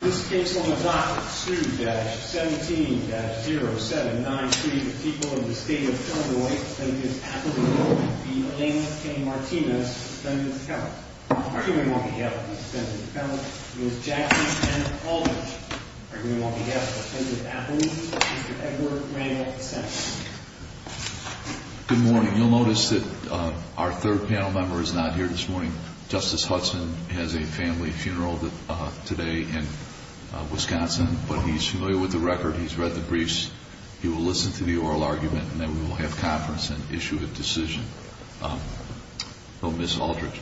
Good morning. You'll notice that our third panel member is not here this morning. Justice Hudson has a family funeral today and he is familiar with the record. He's read the briefs. He will listen to the oral argument and then we will have conference and issue a decision. Ms. Aldridge,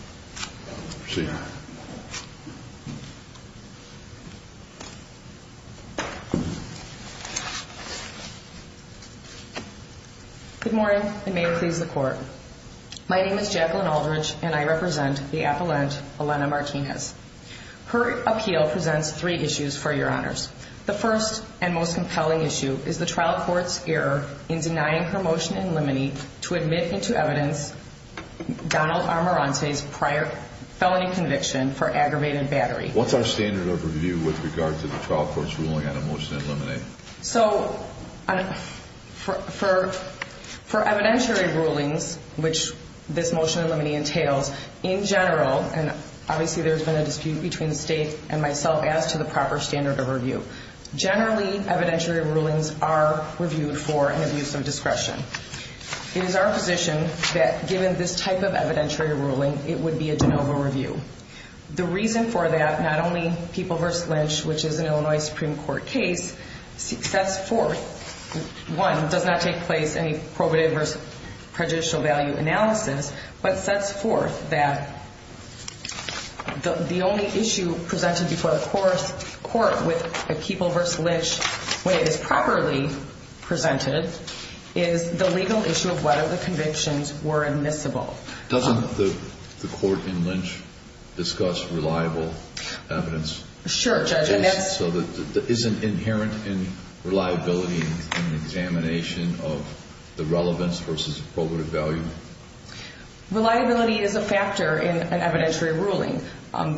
proceed. Ms. Aldridge Good morning and may it please the court. My name is Jacqueline Aldridge and I represent the appellant Elena Martinez. Her appeal presents three issues for your honors. The first and most compelling issue is the trial court's error in denying her motion in limine to admit into evidence Donald Armarante's prior felony conviction for aggravated battery. What's our standard overview with regard to the trial court's ruling on a motion in limine? For evidentiary rulings, which this motion in limine entails, in general, and obviously there's been a dispute between the state and myself as to the proper standard of review, generally evidentiary rulings are reviewed for an abuse of discretion. It is our position that given this type of evidentiary ruling, it would be a de novo review. The reason for that, not only People v. Lynch, which is an Illinois Supreme Court case, sets forth, one, does not take place in a probative versus prejudicial value analysis, but sets forth that the only issue presented before the court with People v. Lynch when it is properly presented is the legal issue of whether the convictions were admissible. Doesn't the court in Lynch discuss reliable evidence? Sure, Judge. Is it inherent in reliability and examination of the relevance versus probative value? Reliability is a factor in an evidentiary ruling. However,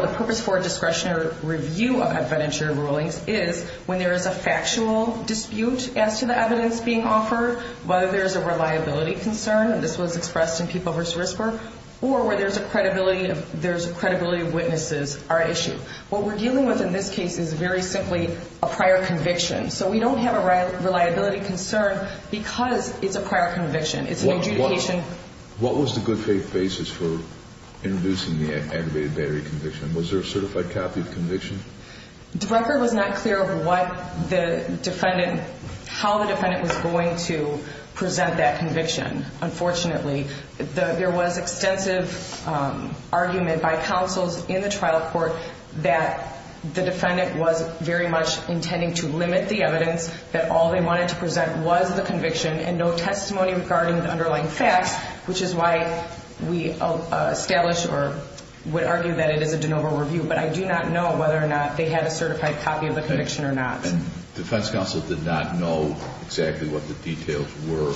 the purpose for discretionary review of evidentiary rulings is when there is a factual dispute as to the evidence being offered, whether there's a reliability concern, and this was expressed in People v. Risper, or where there's a credibility of witnesses are at issue. What we're dealing with in this case is very simply a prior conviction. So we don't have a reliability concern because it's a prior conviction. It's an adjudication. What was the good faith basis for introducing the aggravated battery conviction? Was there a certified copy of the conviction? The record was not clear of how the defendant was going to present that conviction. Unfortunately, there was extensive argument by counsels in the trial court that the defendant was very much intending to limit the evidence, that all they wanted to present was the conviction and no testimony regarding the underlying facts, which is why we establish or would argue that it is a de novo review. But I do not know whether or not they had a certified copy of the conviction or not. And defense counsel did not know exactly what the details were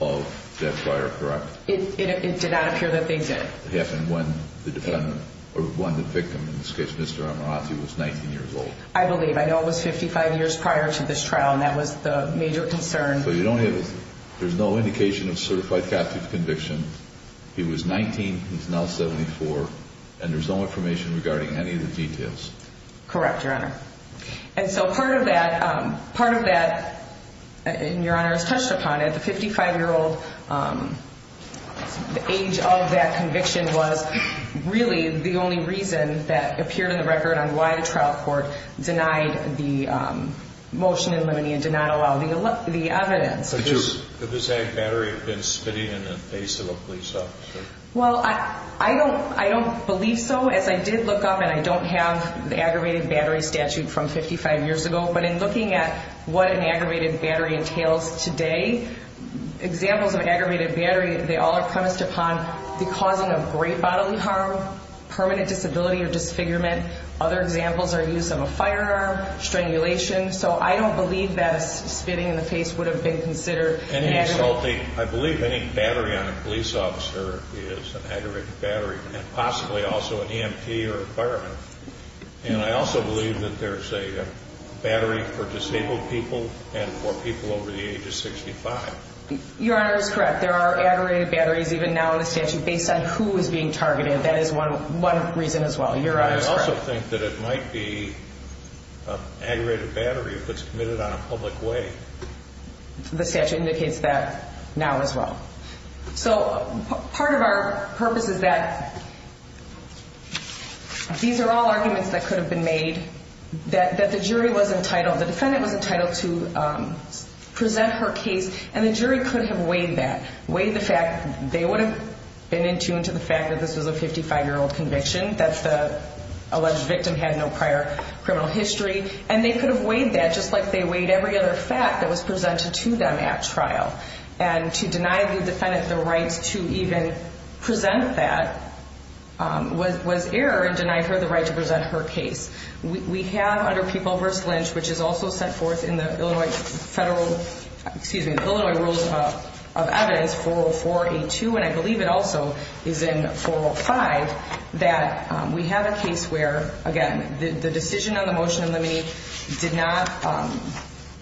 of that prior, correct? It did not appear that they did. It happened when the defendant, or when the victim in this case, Mr. Amorati, was 19 years old. I believe. I know it was 55 years prior to this trial, and that was the major concern. So you don't have, there's no indication of certified captive conviction. He was 19, he's now 74, and there's no information regarding any of the details. Correct, Your Honor. And so part of that, part of that, and Your Honor has touched upon it, the 55-year-old age of that conviction was really the only reason that appeared in the record on why the trial court denied the motion in limiting and did not allow the evidence. Could this ag battery have been spitting in the face of a police officer? Well, I don't believe so. As I did look up, and I don't have the aggravated battery statute from 55 years ago, but in looking at what an aggravated battery entails today, examples of aggravated battery, they all are premised upon the causing of great bodily harm, permanent disability or disfigurement. Other examples are use of a firearm, strangulation. So I don't believe that spitting in the face would have been considered an aggravated battery. I believe any battery on a police officer is an aggravated battery, and possibly also an EMT or a fireman. And I also believe that there's a battery for disabled people and for people over the age of 65. Your Honor is correct. There are aggravated batteries even now in the statute based on who is being targeted. And that is one reason as well. Your Honor is correct. I also think that it might be an aggravated battery if it's committed on a public way. The statute indicates that now as well. So part of our purpose is that these are all arguments that could have been made that the jury was entitled, the defendant was entitled to present her case, and the jury could have weighed that, they would have been in tune to the fact that this was a 55-year-old conviction, that the alleged victim had no prior criminal history, and they could have weighed that just like they weighed every other fact that was presented to them at trial. And to deny the defendant the right to even present that was error in denying her the right to present her case. We have under People v. Lynch, which is also set forth in the Illinois Federal, excuse me, the Illinois Rules of Evidence 40482, and I believe it also is in 405, that we have a case where, again, the decision on the motion in the meeting did not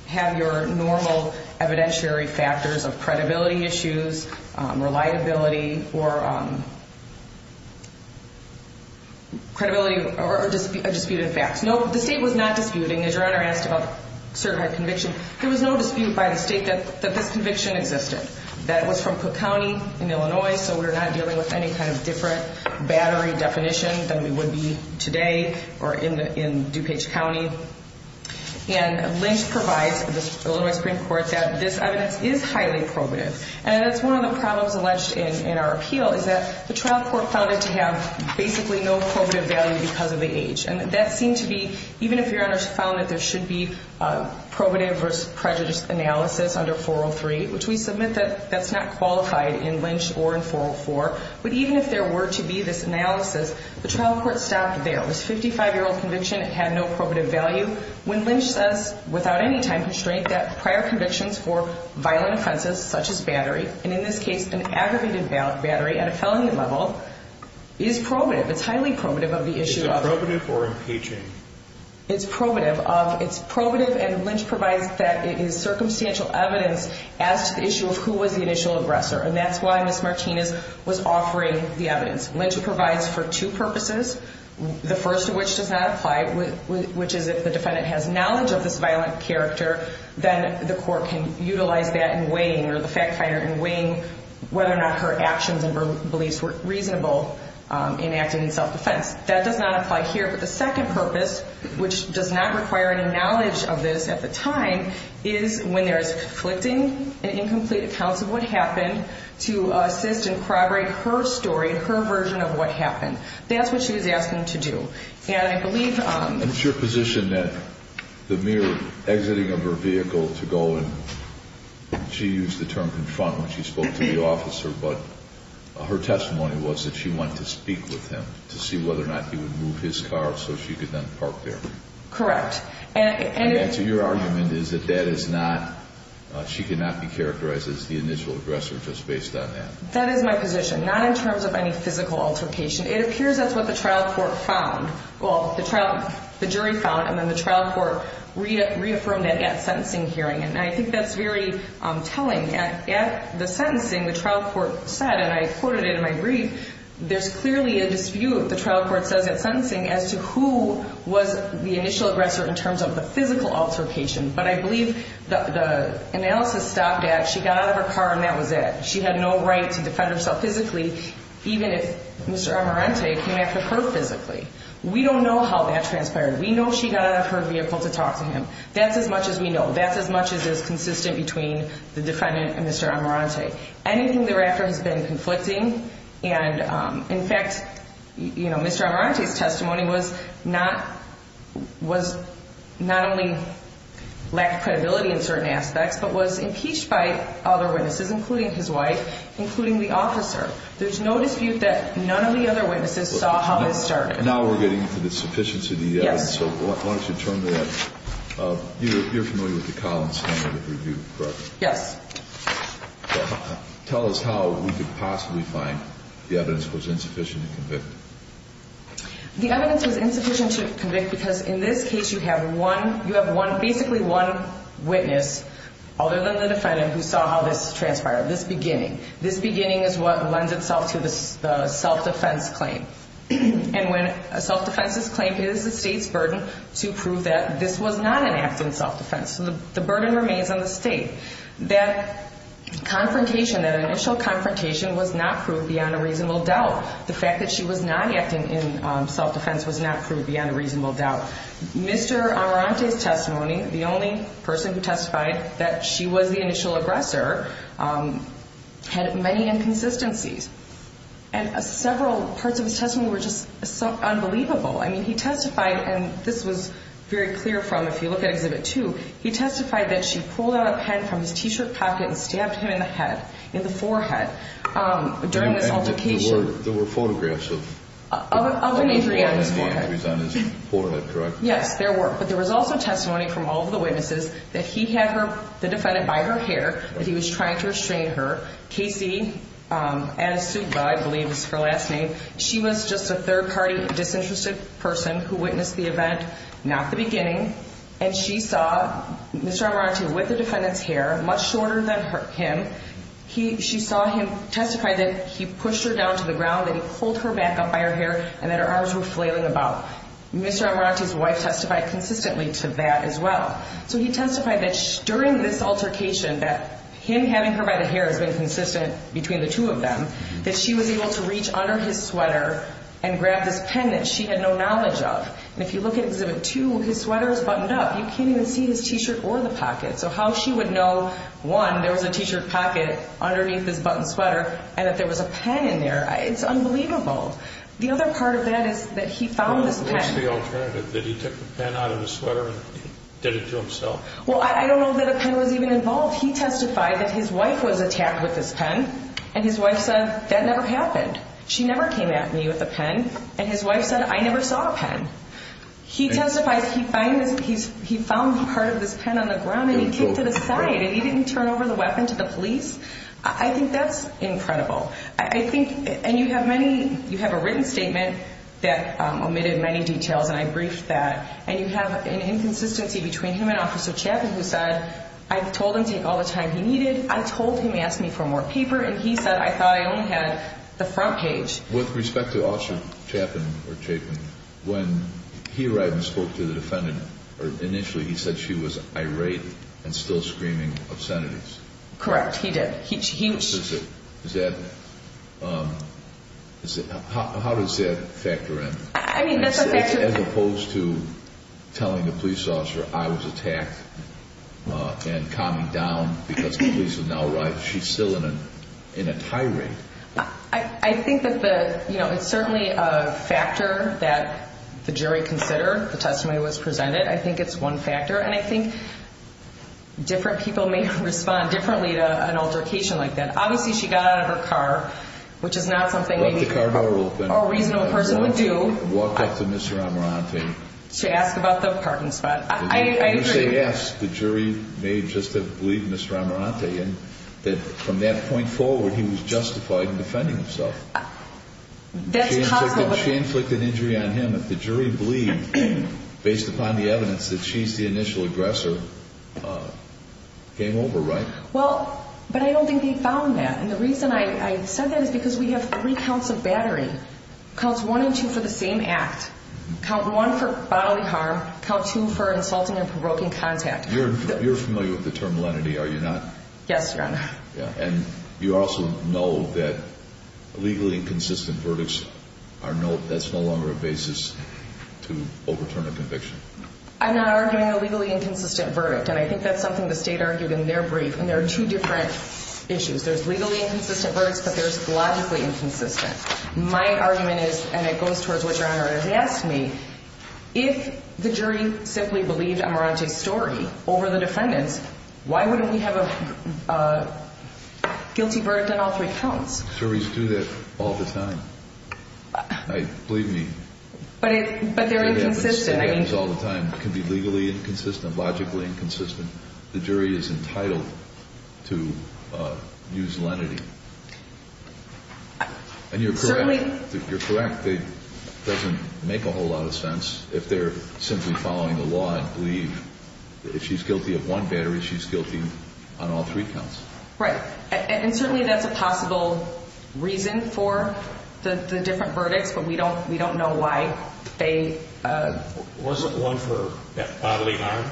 have your normal evidentiary factors of credibility issues, reliability, or credibility of disputed facts. No, the state was not disputing. As your Honor asked about certified conviction, there was no dispute by the state that this conviction existed. That was from Cook County in Illinois, so we're not dealing with any kind of different battery definition than we would be today or in DuPage County. And Lynch provides, the Illinois Supreme Court, that this evidence is highly probative. And that's one of the problems alleged in our appeal, is that the trial court found it to have basically no probative value because of the age. And that seemed to be, even if your Honor found that there should be probative versus prejudice analysis under 403, which we submit that that's not qualified in Lynch or in 404, but even if there were to be this analysis, the trial court stopped there. This 55-year-old conviction had no probative value. When Lynch says, without any time constraint, that prior convictions for violent offenses such as battery, and in this case an aggravated battery at a felony level, is probative. It's highly probative of the issue of... Is it probative or impeaching? It's probative. It's probative, and Lynch provides that it is circumstantial evidence as to the issue of who was the initial aggressor. And that's why Ms. Martinez was offering the evidence. Lynch provides for two purposes, the first of which does not apply, which is if the defendant has knowledge of this violent character, then the court can utilize that in weighing, or the fact finder, in weighing whether or not her actions and beliefs were reasonable in acting in self-defense. That does not apply here. But the second purpose, which does not require any knowledge of this at the time, is when there's conflicting and incomplete accounts of what happened, to assist and corroborate her story, her version of what happened. That's what she was asking to do. And I believe... It's your position that the mere exiting of her vehicle to go and... She used the term confront when she spoke to the officer, but her testimony was that she went to speak with him to see whether or not he would move his car so she could then park there. Correct. And so your argument is that that is not... She could not be characterized as the initial aggressor just based on that. That is my position, not in terms of any physical altercation. It appears that's what the trial court found. Well, the jury found, and then the trial court reaffirmed it at sentencing hearing. And I think that's very telling. At the sentencing, the trial court said, and I quoted it in my brief, there's clearly a dispute, the trial court says at sentencing, as to who was the initial aggressor in terms of the physical altercation. But I believe the analysis stopped at she got out of her car and that was it. She had no right to defend herself physically, even if Mr. Amarante came after her physically. We don't know how that transpired. We know she got out of her vehicle to talk to him. That's as much as we know. That's as much as is consistent between the defendant and Mr. Amarante. Anything thereafter has been conflicting. And, in fact, Mr. Amarante's testimony was not only lack of credibility in certain aspects, but was impeached by other witnesses, including his wife, including the officer. There's no dispute that none of the other witnesses saw how this started. Now we're getting to the sufficiency of the evidence. Yes. So why don't you turn to that. You're familiar with the Collins Handbook of Review, correct? Yes. Tell us how we could possibly find the evidence was insufficient to convict. The evidence was insufficient to convict because, in this case, you have basically one witness, other than the defendant, who saw how this transpired, this beginning. This beginning is what lends itself to the self-defense claim. And when a self-defense is claimed, it is the state's burden to prove that this was not an act in self-defense. So the burden remains on the state. That confrontation, that initial confrontation, was not proved beyond a reasonable doubt. The fact that she was not acting in self-defense was not proved beyond a reasonable doubt. Mr. Amarante's testimony, the only person who testified that she was the initial aggressor, had many inconsistencies. And several parts of his testimony were just unbelievable. I mean, he testified, and this was very clear from, if you look at Exhibit 2, he testified that she pulled out a pen from his T-shirt pocket and stabbed him in the head, in the forehead, during this altercation. There were photographs of an injury on his forehead. Of an injury on his forehead, correct? Yes, there were. But there was also testimony from all of the witnesses that he had her, the defendant, by her hair, that he was trying to restrain her. K.C. Adesugba, I believe is her last name, she was just a third-party disinterested person who witnessed the event, not the beginning. And she saw Mr. Amarante with the defendant's hair, much shorter than him. She saw him testify that he pushed her down to the ground, that he pulled her back up by her hair, and that her arms were flailing about. Mr. Amarante's wife testified consistently to that as well. So he testified that during this altercation, that him having her by the hair has been consistent between the two of them, that she was able to reach under his sweater and grab this pen that she had no knowledge of. And if you look at Exhibit 2, his sweater was buttoned up. You can't even see his T-shirt or the pocket. So how she would know, one, there was a T-shirt pocket underneath his buttoned sweater, and that there was a pen in there, it's unbelievable. Did he take the pen out of his sweater and did it to himself? Well, I don't know that a pen was even involved. He testified that his wife was attacked with this pen, and his wife said, that never happened. She never came at me with a pen. And his wife said, I never saw a pen. He testified he found part of this pen on the ground and he kicked it aside, and he didn't turn over the weapon to the police. I think that's incredible. And you have a written statement that omitted many details, and I briefed that. And you have an inconsistency between him and Officer Chapin, who said, I told him to take all the time he needed, I told him to ask me for more paper, and he said, I thought I only had the front page. With respect to Officer Chapin, when he arrived and spoke to the defendant initially, he said she was irate and still screaming obscenities. Correct, he did. How does that factor in? I mean, that's a factor. As opposed to telling the police officer I was attacked and calming down because the police are now arriving. She's still in a tirade. I think that it's certainly a factor that the jury considered the testimony that was presented. I think it's one factor, and I think different people may respond differently to an altercation like that. Obviously, she got out of her car, which is not something maybe a reasonable person would do to ask about the parking spot. I agree. You say yes, the jury may just have believed Mr. Amarante, and that from that point forward, he was justified in defending himself. That's possible. She inflicted injury on him. The jury believed, based upon the evidence, that she's the initial aggressor. Game over, right? Well, but I don't think they found that, and the reason I said that is because we have three counts of battery. Counts one and two for the same act. Count one for bodily harm. Count two for insulting and provoking contact. You're familiar with the term lenity, are you not? Yes, Your Honor. And you also know that legally inconsistent verdicts, that's no longer a basis to overturn a conviction. I'm not arguing a legally inconsistent verdict, and I think that's something the State argued in their brief, and there are two different issues. There's legally inconsistent verdicts, but there's logically inconsistent. My argument is, and it goes towards what Your Honor has asked me, if the jury simply believed Amarante's story over the defendant's, why wouldn't we have a guilty verdict on all three counts? Juries do that all the time. Believe me. But they're inconsistent. It happens all the time. It can be legally inconsistent, logically inconsistent. The jury is entitled to use lenity. And you're correct. Certainly. You're correct. It doesn't make a whole lot of sense if they're simply following the law and believe that if she's guilty of one battery, she's guilty on all three counts. Right. And certainly that's a possible reason for the different verdicts, but we don't know why they... Wasn't one for bodily harm?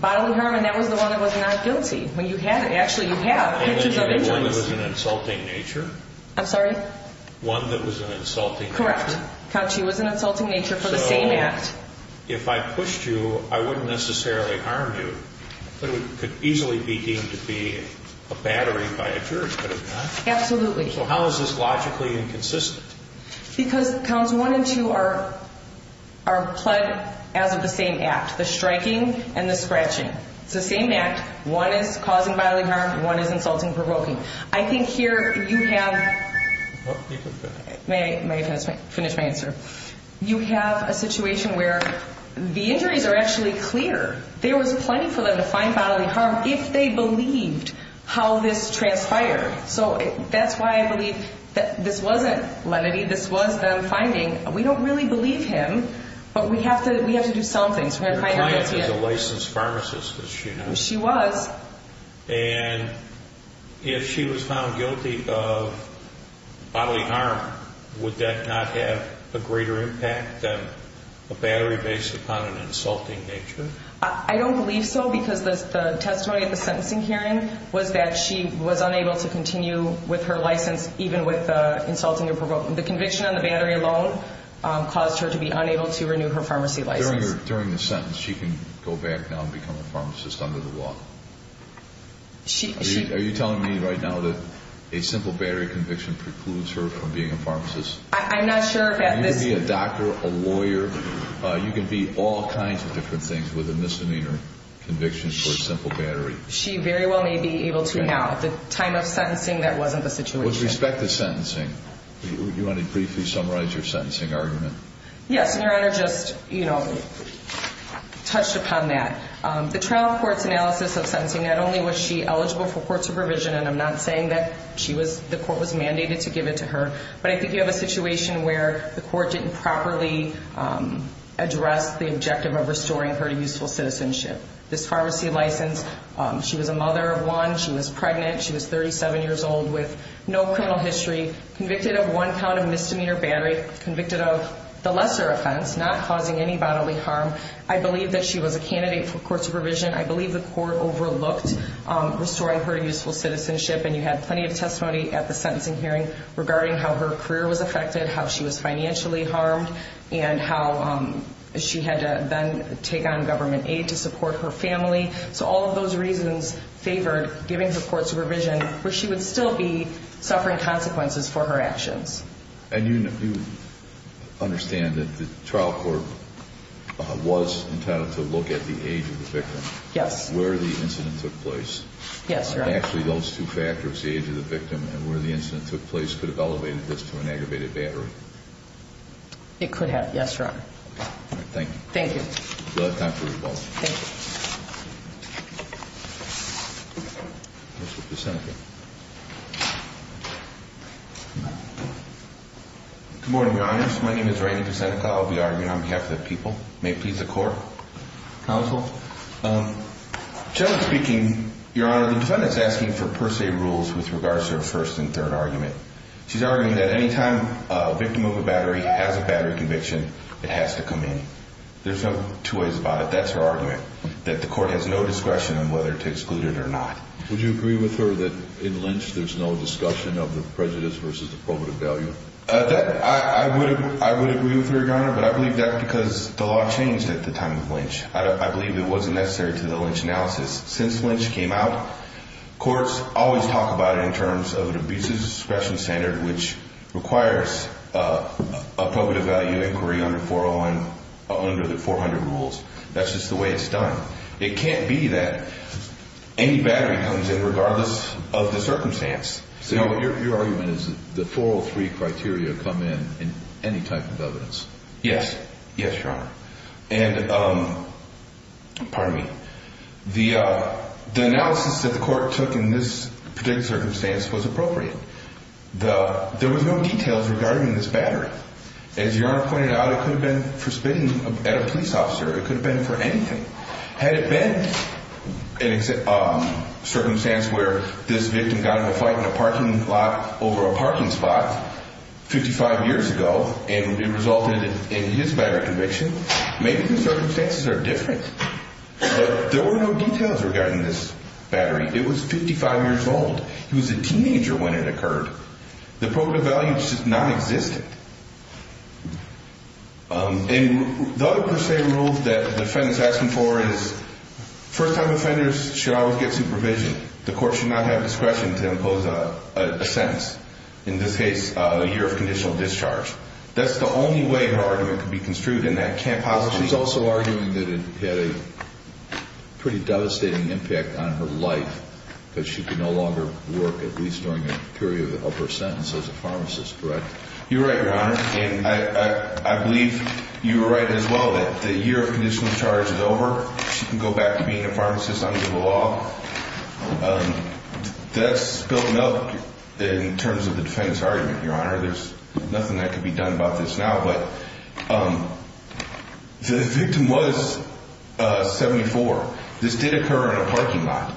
Bodily harm, and that was the one that was not guilty. Actually, you have pictures of injuries. One that was an insulting nature? I'm sorry? One that was an insulting nature? Correct. Count two was an insulting nature for the same act. So if I pushed you, I wouldn't necessarily harm you, but it could easily be deemed to be a battery by a jury, could it not? Absolutely. So how is this logically inconsistent? Because counts one and two are pled as of the same act, the striking and the scratching. It's the same act. One is causing bodily harm, one is insulting, provoking. I think here you have... You can finish. May I finish my answer? You have a situation where the injuries are actually clear. There was plenty for them to find bodily harm if they believed how this transpired. So that's why I believe that this wasn't lenity. This was them finding, we don't really believe him, but we have to do something. Your client is a licensed pharmacist, as she knows. She was. And if she was found guilty of bodily harm, would that not have a greater impact than a battery based upon an insulting nature? I don't believe so because the testimony at the sentencing hearing was that she was unable to continue with her license even with the insulting or provoking. The conviction on the battery alone caused her to be unable to renew her pharmacy license. So during the sentence, she can go back now and become a pharmacist under the law? She... Are you telling me right now that a simple battery conviction precludes her from being a pharmacist? I'm not sure that this... You can be a doctor, a lawyer. You can be all kinds of different things with a misdemeanor conviction for a simple battery. She very well may be able to now. At the time of sentencing, that wasn't the situation. With respect to sentencing, do you want to briefly summarize your sentencing argument? Yes, and Your Honor, just, you know, touched upon that. The trial court's analysis of sentencing, not only was she eligible for court supervision, and I'm not saying that she was... the court was mandated to give it to her, but I think you have a situation where the court didn't properly address the objective of restoring her to useful citizenship. This pharmacy license, she was a mother of one. She was pregnant. She was 37 years old with no criminal history, convicted of one count of misdemeanor battery, convicted of the lesser offense, not causing any bodily harm. I believe that she was a candidate for court supervision. I believe the court overlooked restoring her to useful citizenship, and you had plenty of testimony at the sentencing hearing, regarding how her career was affected, how she was financially harmed, and how she had to then take on government aid to support her family. So, all of those reasons favored giving her court supervision, where she would still be suffering consequences for her actions. And you understand that the trial court was entitled to look at the age of the victim? Yes. Where the incident took place? Yes, Your Honor. Actually, those two factors, the age of the victim and where the incident took place, could have elevated this to an aggravated battery? It could have, yes, Your Honor. All right, thank you. Thank you. You'll have time for rebuttal. Thank you. Mr. Kucenica. Good morning, Your Honors. My name is Randy Kucenica. I'll be arguing on behalf of the people. May it please the Court? Counsel. Generally speaking, Your Honor, the defendant is asking for per se rules with regards to her first and third argument. She's arguing that any time a victim of a battery has a battery conviction, it has to come in. There's no two ways about it. That's her argument. That the Court has no discretion on whether to exclude it or not. Would you agree with her that in Lynch there's no discussion of the prejudice versus the probative value? I would agree with her, Your Honor, but I believe that because the law changed at the time of Lynch. I believe it wasn't necessary to the Lynch analysis. Since Lynch came out, courts always talk about it in terms of an abusive discretion standard, which requires a probative value inquiry under 401, under the 400 rules. That's just the way it's done. It can't be that any battery comes in regardless of the circumstance. So your argument is that the 403 criteria come in in any type of evidence? Yes. Yes, Your Honor. And, pardon me, the analysis that the Court took in this particular circumstance was appropriate. There was no details regarding this battery. As Your Honor pointed out, it could have been for spitting at a police officer. It could have been for anything. Had it been a circumstance where this victim got in a fight in a parking lot over a parking spot 55 years ago and it resulted in his battery conviction, maybe the circumstances are different. But there were no details regarding this battery. It was 55 years old. He was a teenager when it occurred. The probative value is just nonexistent. And the other per se rule that the defendant is asking for is first-time offenders should always get supervision. The Court should not have discretion to impose a sentence, in this case a year of conditional discharge. That's the only way her argument could be construed, and that can't possibly be true. She's also arguing that it had a pretty devastating impact on her life because she could no longer work at least during a period of her sentence as a pharmacist, correct? You're right, Your Honor. And I believe you were right as well that the year of conditional discharge is over. She can go back to being a pharmacist under the law. That's spilt milk in terms of the defendant's argument, Your Honor. There's nothing that can be done about this now. But the victim was 74. This did occur in a parking lot.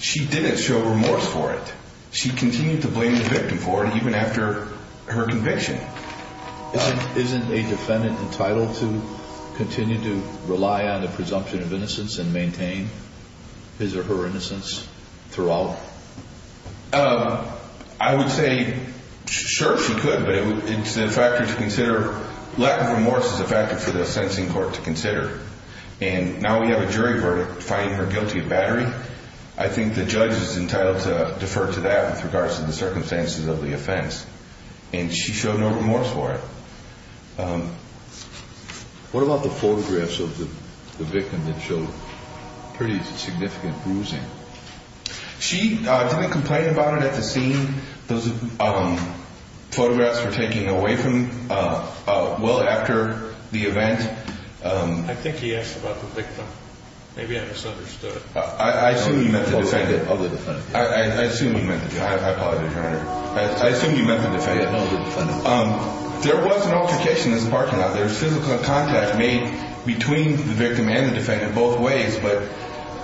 She didn't show remorse for it. She continued to blame the victim for it even after her conviction. Isn't a defendant entitled to continue to rely on the presumption of innocence and maintain his or her innocence throughout? I would say, sure, she could, but it's a factor to consider. Lack of remorse is a factor for the sentencing court to consider. And now we have a jury verdict finding her guilty of battery. I think the judge is entitled to defer to that with regards to the circumstances of the offense. And she showed no remorse for it. What about the photographs of the victim that showed pretty significant bruising? She didn't complain about it at the scene. Those photographs were taken away from her well after the event. I think he asked about the victim. Maybe I misunderstood. I assume you meant the defendant. I apologize, Your Honor. I assume you meant the defendant. There was an altercation in this parking lot. There was physical contact made between the victim and the defendant both ways. But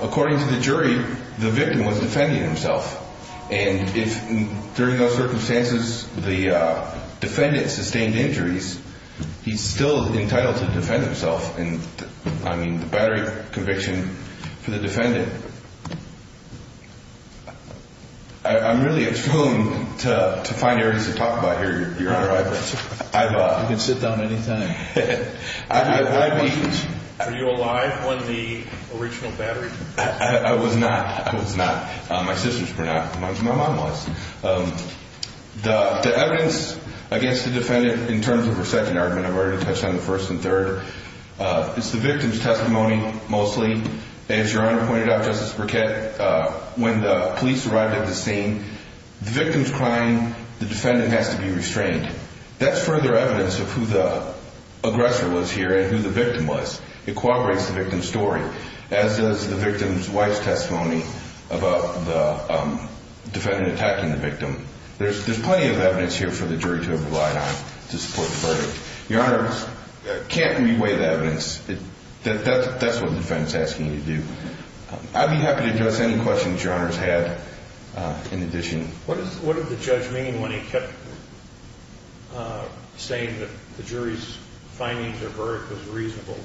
according to the jury, the victim was defending himself. And during those circumstances, the defendant sustained injuries. He's still entitled to defend himself. I mean, the battery conviction for the defendant. I'm really at home to find areas to talk about here, Your Honor. You can sit down any time. Were you alive when the original battery? I was not. I was not. My sisters were not. My mom was. The evidence against the defendant in terms of her second argument, I've already touched on the first and third, is the victim's testimony mostly. As Your Honor pointed out, Justice Burkett, when the police arrived at the scene, the victim's crying, the defendant has to be restrained. That's further evidence of who the aggressor was here and who the victim was. It corroborates the victim's story, as does the victim's wife's testimony about the defendant attacking the victim. There's plenty of evidence here for the jury to rely on to support the verdict. Your Honor, I can't re-weigh the evidence. That's what the defense is asking you to do. I'd be happy to address any questions Your Honor has had in addition. What did the judge mean when he kept saying that the jury's findings or verdict was reasonable?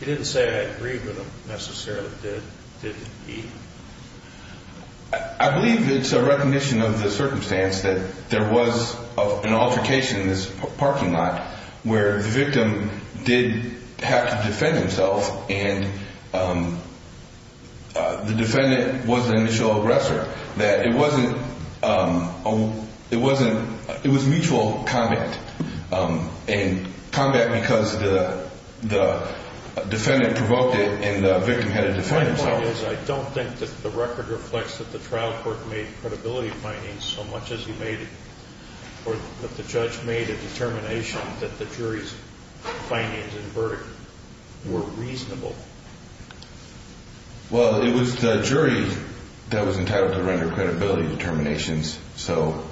He didn't say I agreed with him necessarily, did he? I believe it's a recognition of the circumstance that there was an altercation in this parking lot where the victim did have to defend himself and the defendant was the initial aggressor. It was mutual combat and combat because the defendant provoked it and the victim had to defend himself. My point is I don't think that the record reflects that the trial court made credibility findings so much as he made it or that the judge made a determination that the jury's findings and verdict were reasonable. Well, it was the jury that was entitled to render credibility determinations. So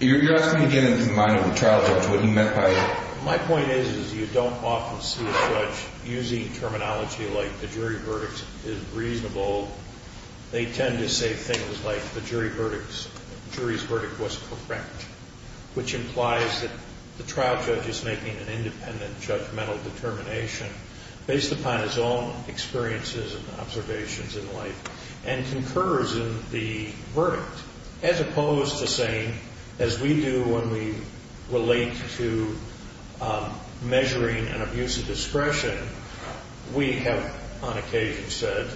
you're asking to get into the mind of the trial judge what he meant by it. My point is you don't often see a judge using terminology like the jury verdict is reasonable. They tend to say things like the jury's verdict was correct which implies that the trial judge is making an independent judgmental determination based upon his own experiences and observations in life and concurs in the verdict as opposed to saying as we do when we relate to measuring an abuse of discretion, we have on occasion said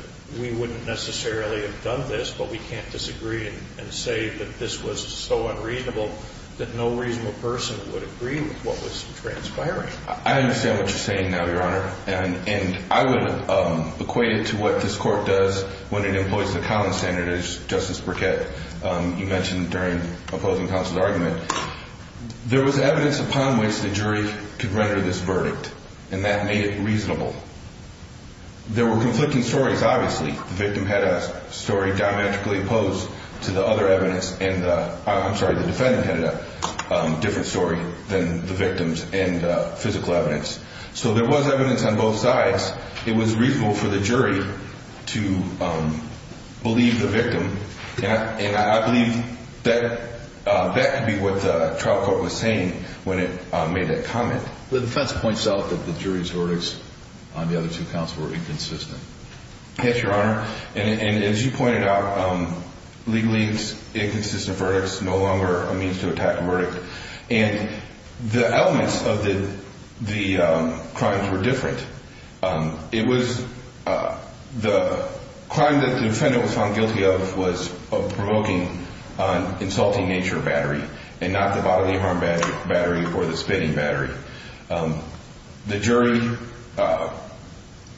we wouldn't necessarily have done this but we can't disagree and say that this was so unreasonable that no reasonable person would agree with what was transpiring. I understand what you're saying now, Your Honor, and I would equate it to what this court does when it employs the common standard as Justice Burkett, you mentioned during opposing counsel's argument. There was evidence upon which the jury could render this verdict and that made it reasonable. There were conflicting stories, obviously. The victim had a story diametrically opposed to the other evidence and the defendant had a different story than the victims and physical evidence. So there was evidence on both sides. It was reasonable for the jury to believe the victim and I believe that could be what the trial court was saying when it made that comment. The defense points out that the jury's verdicts on the other two counts were inconsistent. Yes, Your Honor. And as you pointed out, legalese, inconsistent verdicts, no longer a means to attack a verdict. And the elements of the crimes were different. It was the crime that the defendant was found guilty of was provoking an insulting nature battery and not the bodily harm battery or the spitting battery. The jury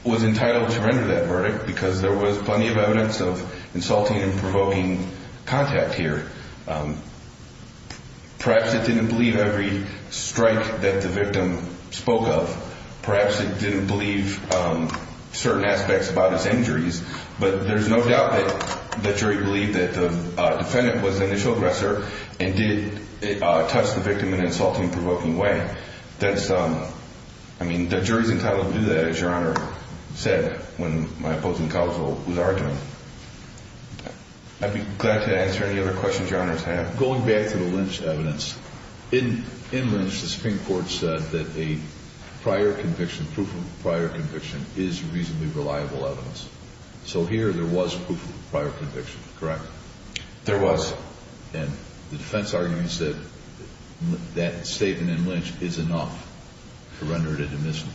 was entitled to render that verdict because there was plenty of evidence of insulting and provoking contact here. Perhaps it didn't believe every strike that the victim spoke of. Perhaps it didn't believe certain aspects about his injuries, but there's no doubt that the jury believed that the defendant was the initial aggressor and did touch the victim in an insulting, provoking way. I mean, the jury's entitled to do that, as Your Honor said, when my opposing counsel was arguing. I'd be glad to answer any other questions Your Honors have. Going back to the Lynch evidence, in Lynch the Supreme Court said that a prior conviction, proof of prior conviction, is reasonably reliable evidence. So here there was proof of prior conviction, correct? There was. And the defense argues that that statement in Lynch is enough to render it a dismissal.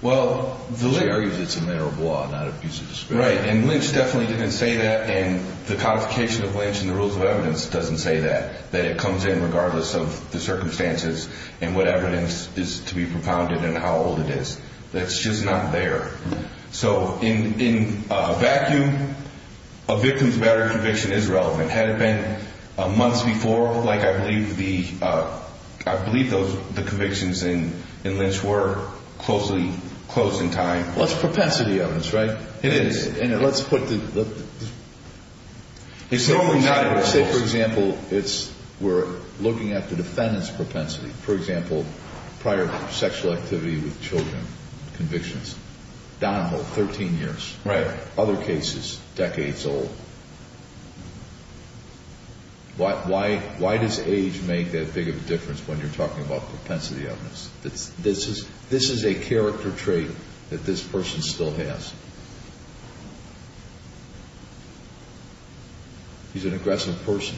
Well, the jury argues it's a matter of law, not a piece of discretion. Right, and Lynch definitely didn't say that, and the codification of Lynch in the rules of evidence doesn't say that, that it comes in regardless of the circumstances and what evidence is to be propounded and how old it is. That's just not there. So in a vacuum, a victim's battery conviction is relevant. Had it been months before, like I believe the convictions in Lynch were closely closed in time. Well, it's propensity evidence, right? It is. And let's put the... It's normally not in the rules. Say, for example, we're looking at the defendant's propensity. For example, prior sexual activity with children convictions, Donahoe, 13 years. Right. Other cases, decades old. Why does age make that big of a difference when you're talking about propensity evidence? This is a character trait that this person still has. He's an aggressive person,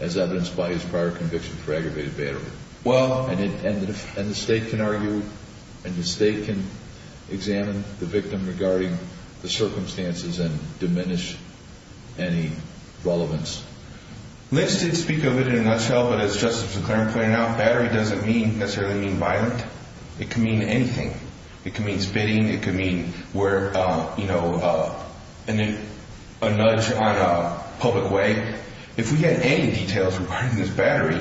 as evidenced by his prior conviction for aggravated battery. Well... And the state can argue and the state can examine the victim regarding the circumstances and diminish any relevance. Lynch did speak of it in a nutshell, but as Justice McClaren pointed out, battery doesn't necessarily mean violent. It can mean anything. It can mean spitting. It can mean a nudge on a public way. If we had any details regarding this battery,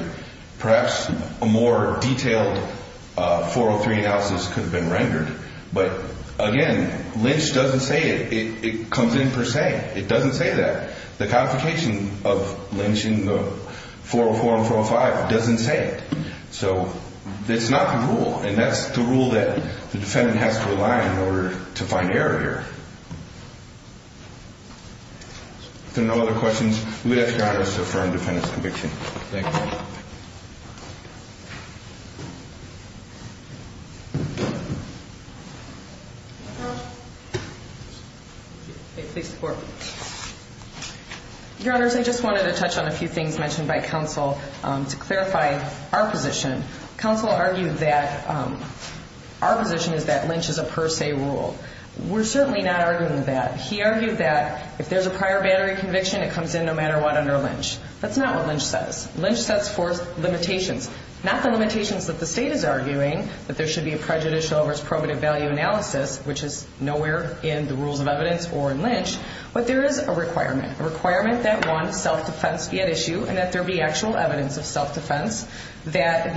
perhaps a more detailed 403 analysis could have been rendered. But, again, Lynch doesn't say it. It comes in per se. It doesn't say that. The complication of Lynch in the 404 and 405 doesn't say it. So it's not the rule, and that's the rule that the defendant has to rely on in order to find error here. If there are no other questions, we'd ask Your Honor to affirm the defendant's conviction. Thank you. Please support. Your Honors, I just wanted to touch on a few things mentioned by counsel to clarify our position. Counsel argued that our position is that Lynch is a per se rule. We're certainly not arguing that. He argued that if there's a prior battery conviction, it comes in no matter what under Lynch. That's not what Lynch says. Lynch sets forth limitations, not the limitations that the state is arguing, that there should be a prejudicial versus probative value analysis, which is nowhere in the rules of evidence or in Lynch, but there is a requirement, a requirement that, one, self-defense be at issue and that there be actual evidence of self-defense, that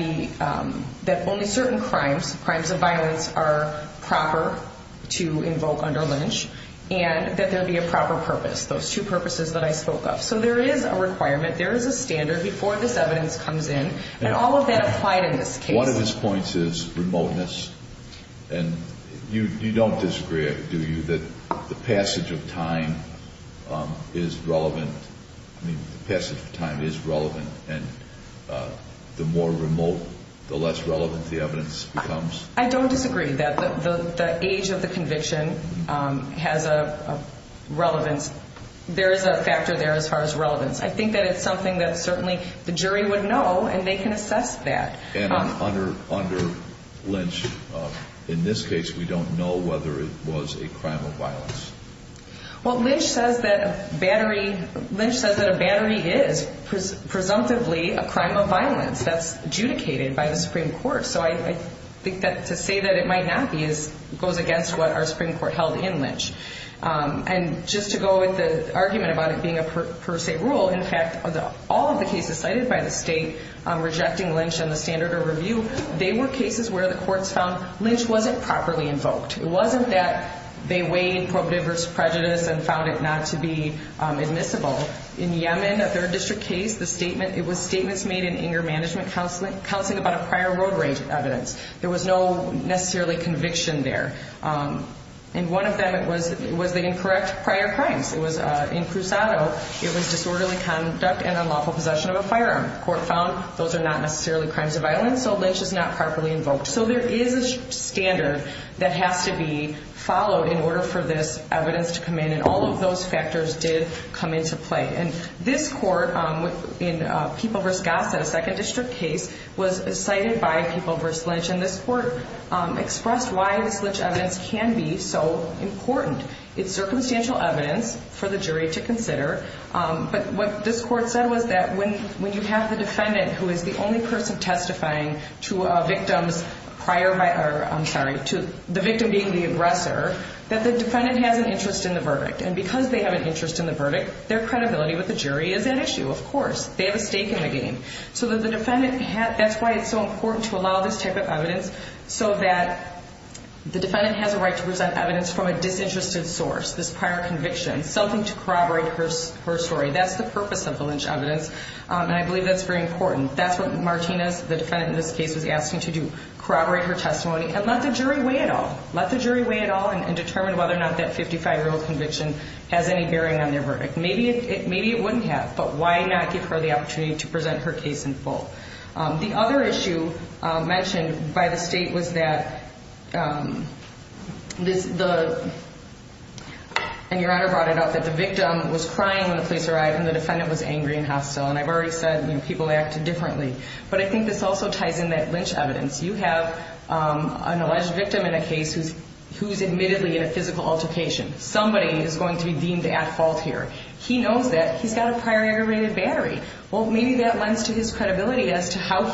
only certain crimes, crimes of violence, are proper to invoke under Lynch, and that there be a proper purpose, those two purposes that I spoke of. So there is a requirement. There is a standard before this evidence comes in, and all of that applied in this case. One of his points is remoteness, and you don't disagree, do you, that the passage of time is relevant? I mean, the passage of time is relevant, and the more remote, the less relevant the evidence becomes? I don't disagree. The age of the conviction has a relevance. There is a factor there as far as relevance. I think that it's something that certainly the jury would know, and they can assess that. And under Lynch, in this case, we don't know whether it was a crime of violence. Well, Lynch says that a battery is, presumptively, a crime of violence. That's adjudicated by the Supreme Court. So I think that to say that it might not be goes against what our Supreme Court held in Lynch. And just to go with the argument about it being a per se rule, in fact, all of the cases cited by the state rejecting Lynch and the standard of review, they were cases where the courts found Lynch wasn't properly invoked. It wasn't that they weighed prohibitive versus prejudice and found it not to be admissible. In Yemen, a third district case, it was statements made in anger management counseling about a prior road rage evidence. There was no necessarily conviction there. And one of them, it was the incorrect prior crimes. In Crusado, it was disorderly conduct and unlawful possession of a firearm. The court found those are not necessarily crimes of violence, so Lynch is not properly invoked. So there is a standard that has to be followed in order for this evidence to come in, and all of those factors did come into play. And this court in People v. Gossett, a second district case, was cited by People v. Lynch, and this court expressed why this Lynch evidence can be so important. It's circumstantial evidence for the jury to consider. But what this court said was that when you have the defendant who is the only person testifying to a victim's prior... I'm sorry, to the victim being the aggressor, that the defendant has an interest in the verdict. And because they have an interest in the verdict, their credibility with the jury is at issue, of course. They have a stake in the game. So that's why it's so important to allow this type of evidence so that the defendant has a right to present evidence from a disinterested source, this prior conviction, something to corroborate her story. That's the purpose of the Lynch evidence, and I believe that's very important. That's what Martinez, the defendant in this case, was asking to do, corroborate her testimony and let the jury weigh it all, let the jury weigh it all and determine whether or not that 55-year-old conviction has any bearing on their verdict. Maybe it wouldn't have, but why not give her the opportunity to present her case in full? The other issue mentioned by the state was that the... and Your Honor brought it up, that the victim was crying when the police arrived and the defendant was angry and hostile. And I've already said people acted differently. But I think this also ties in that Lynch evidence. You have an alleged victim in a case who's admittedly in a physical altercation. Somebody is going to be deemed at fault here. He knows that. He's got a prior aggravated battery. Well, maybe that lends to his credibility as to how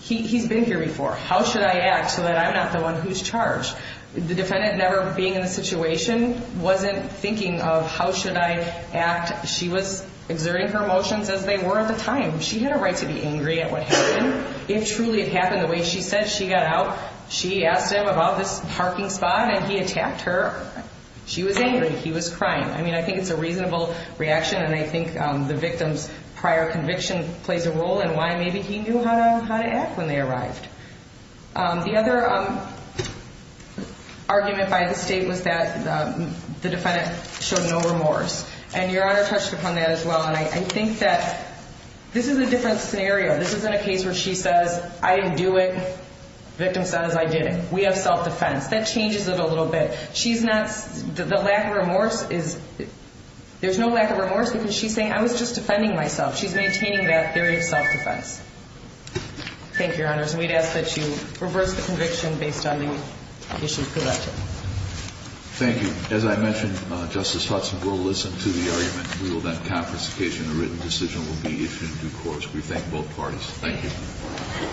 he's been here before. How should I act so that I'm not the one who's charged? The defendant never being in the situation wasn't thinking of how should I act. She was exerting her emotions as they were at the time. She had a right to be angry at what happened. If truly it happened the way she said she got out, she asked him about this parking spot and he attacked her. She was angry. He was crying. I mean, I think it's a reasonable reaction and I think the victim's prior conviction plays a role in why maybe he knew how to act when they arrived. The other argument by the state was that the defendant showed no remorse. And Your Honor touched upon that as well. And I think that this is a different scenario. This isn't a case where she says, I didn't do it. Victim says, I did it. We have self-defense. That changes it a little bit. She's not, the lack of remorse is, there's no lack of remorse because she's saying, I was just defending myself. She's maintaining that theory of self-defense. Thank you, Your Honors. And we'd ask that you reverse the conviction based on the issues presented. Thank you. As I mentioned, Justice Hudson will listen to the argument and rule that confiscation or written decision will be issued in due course. We thank both parties. Thank you.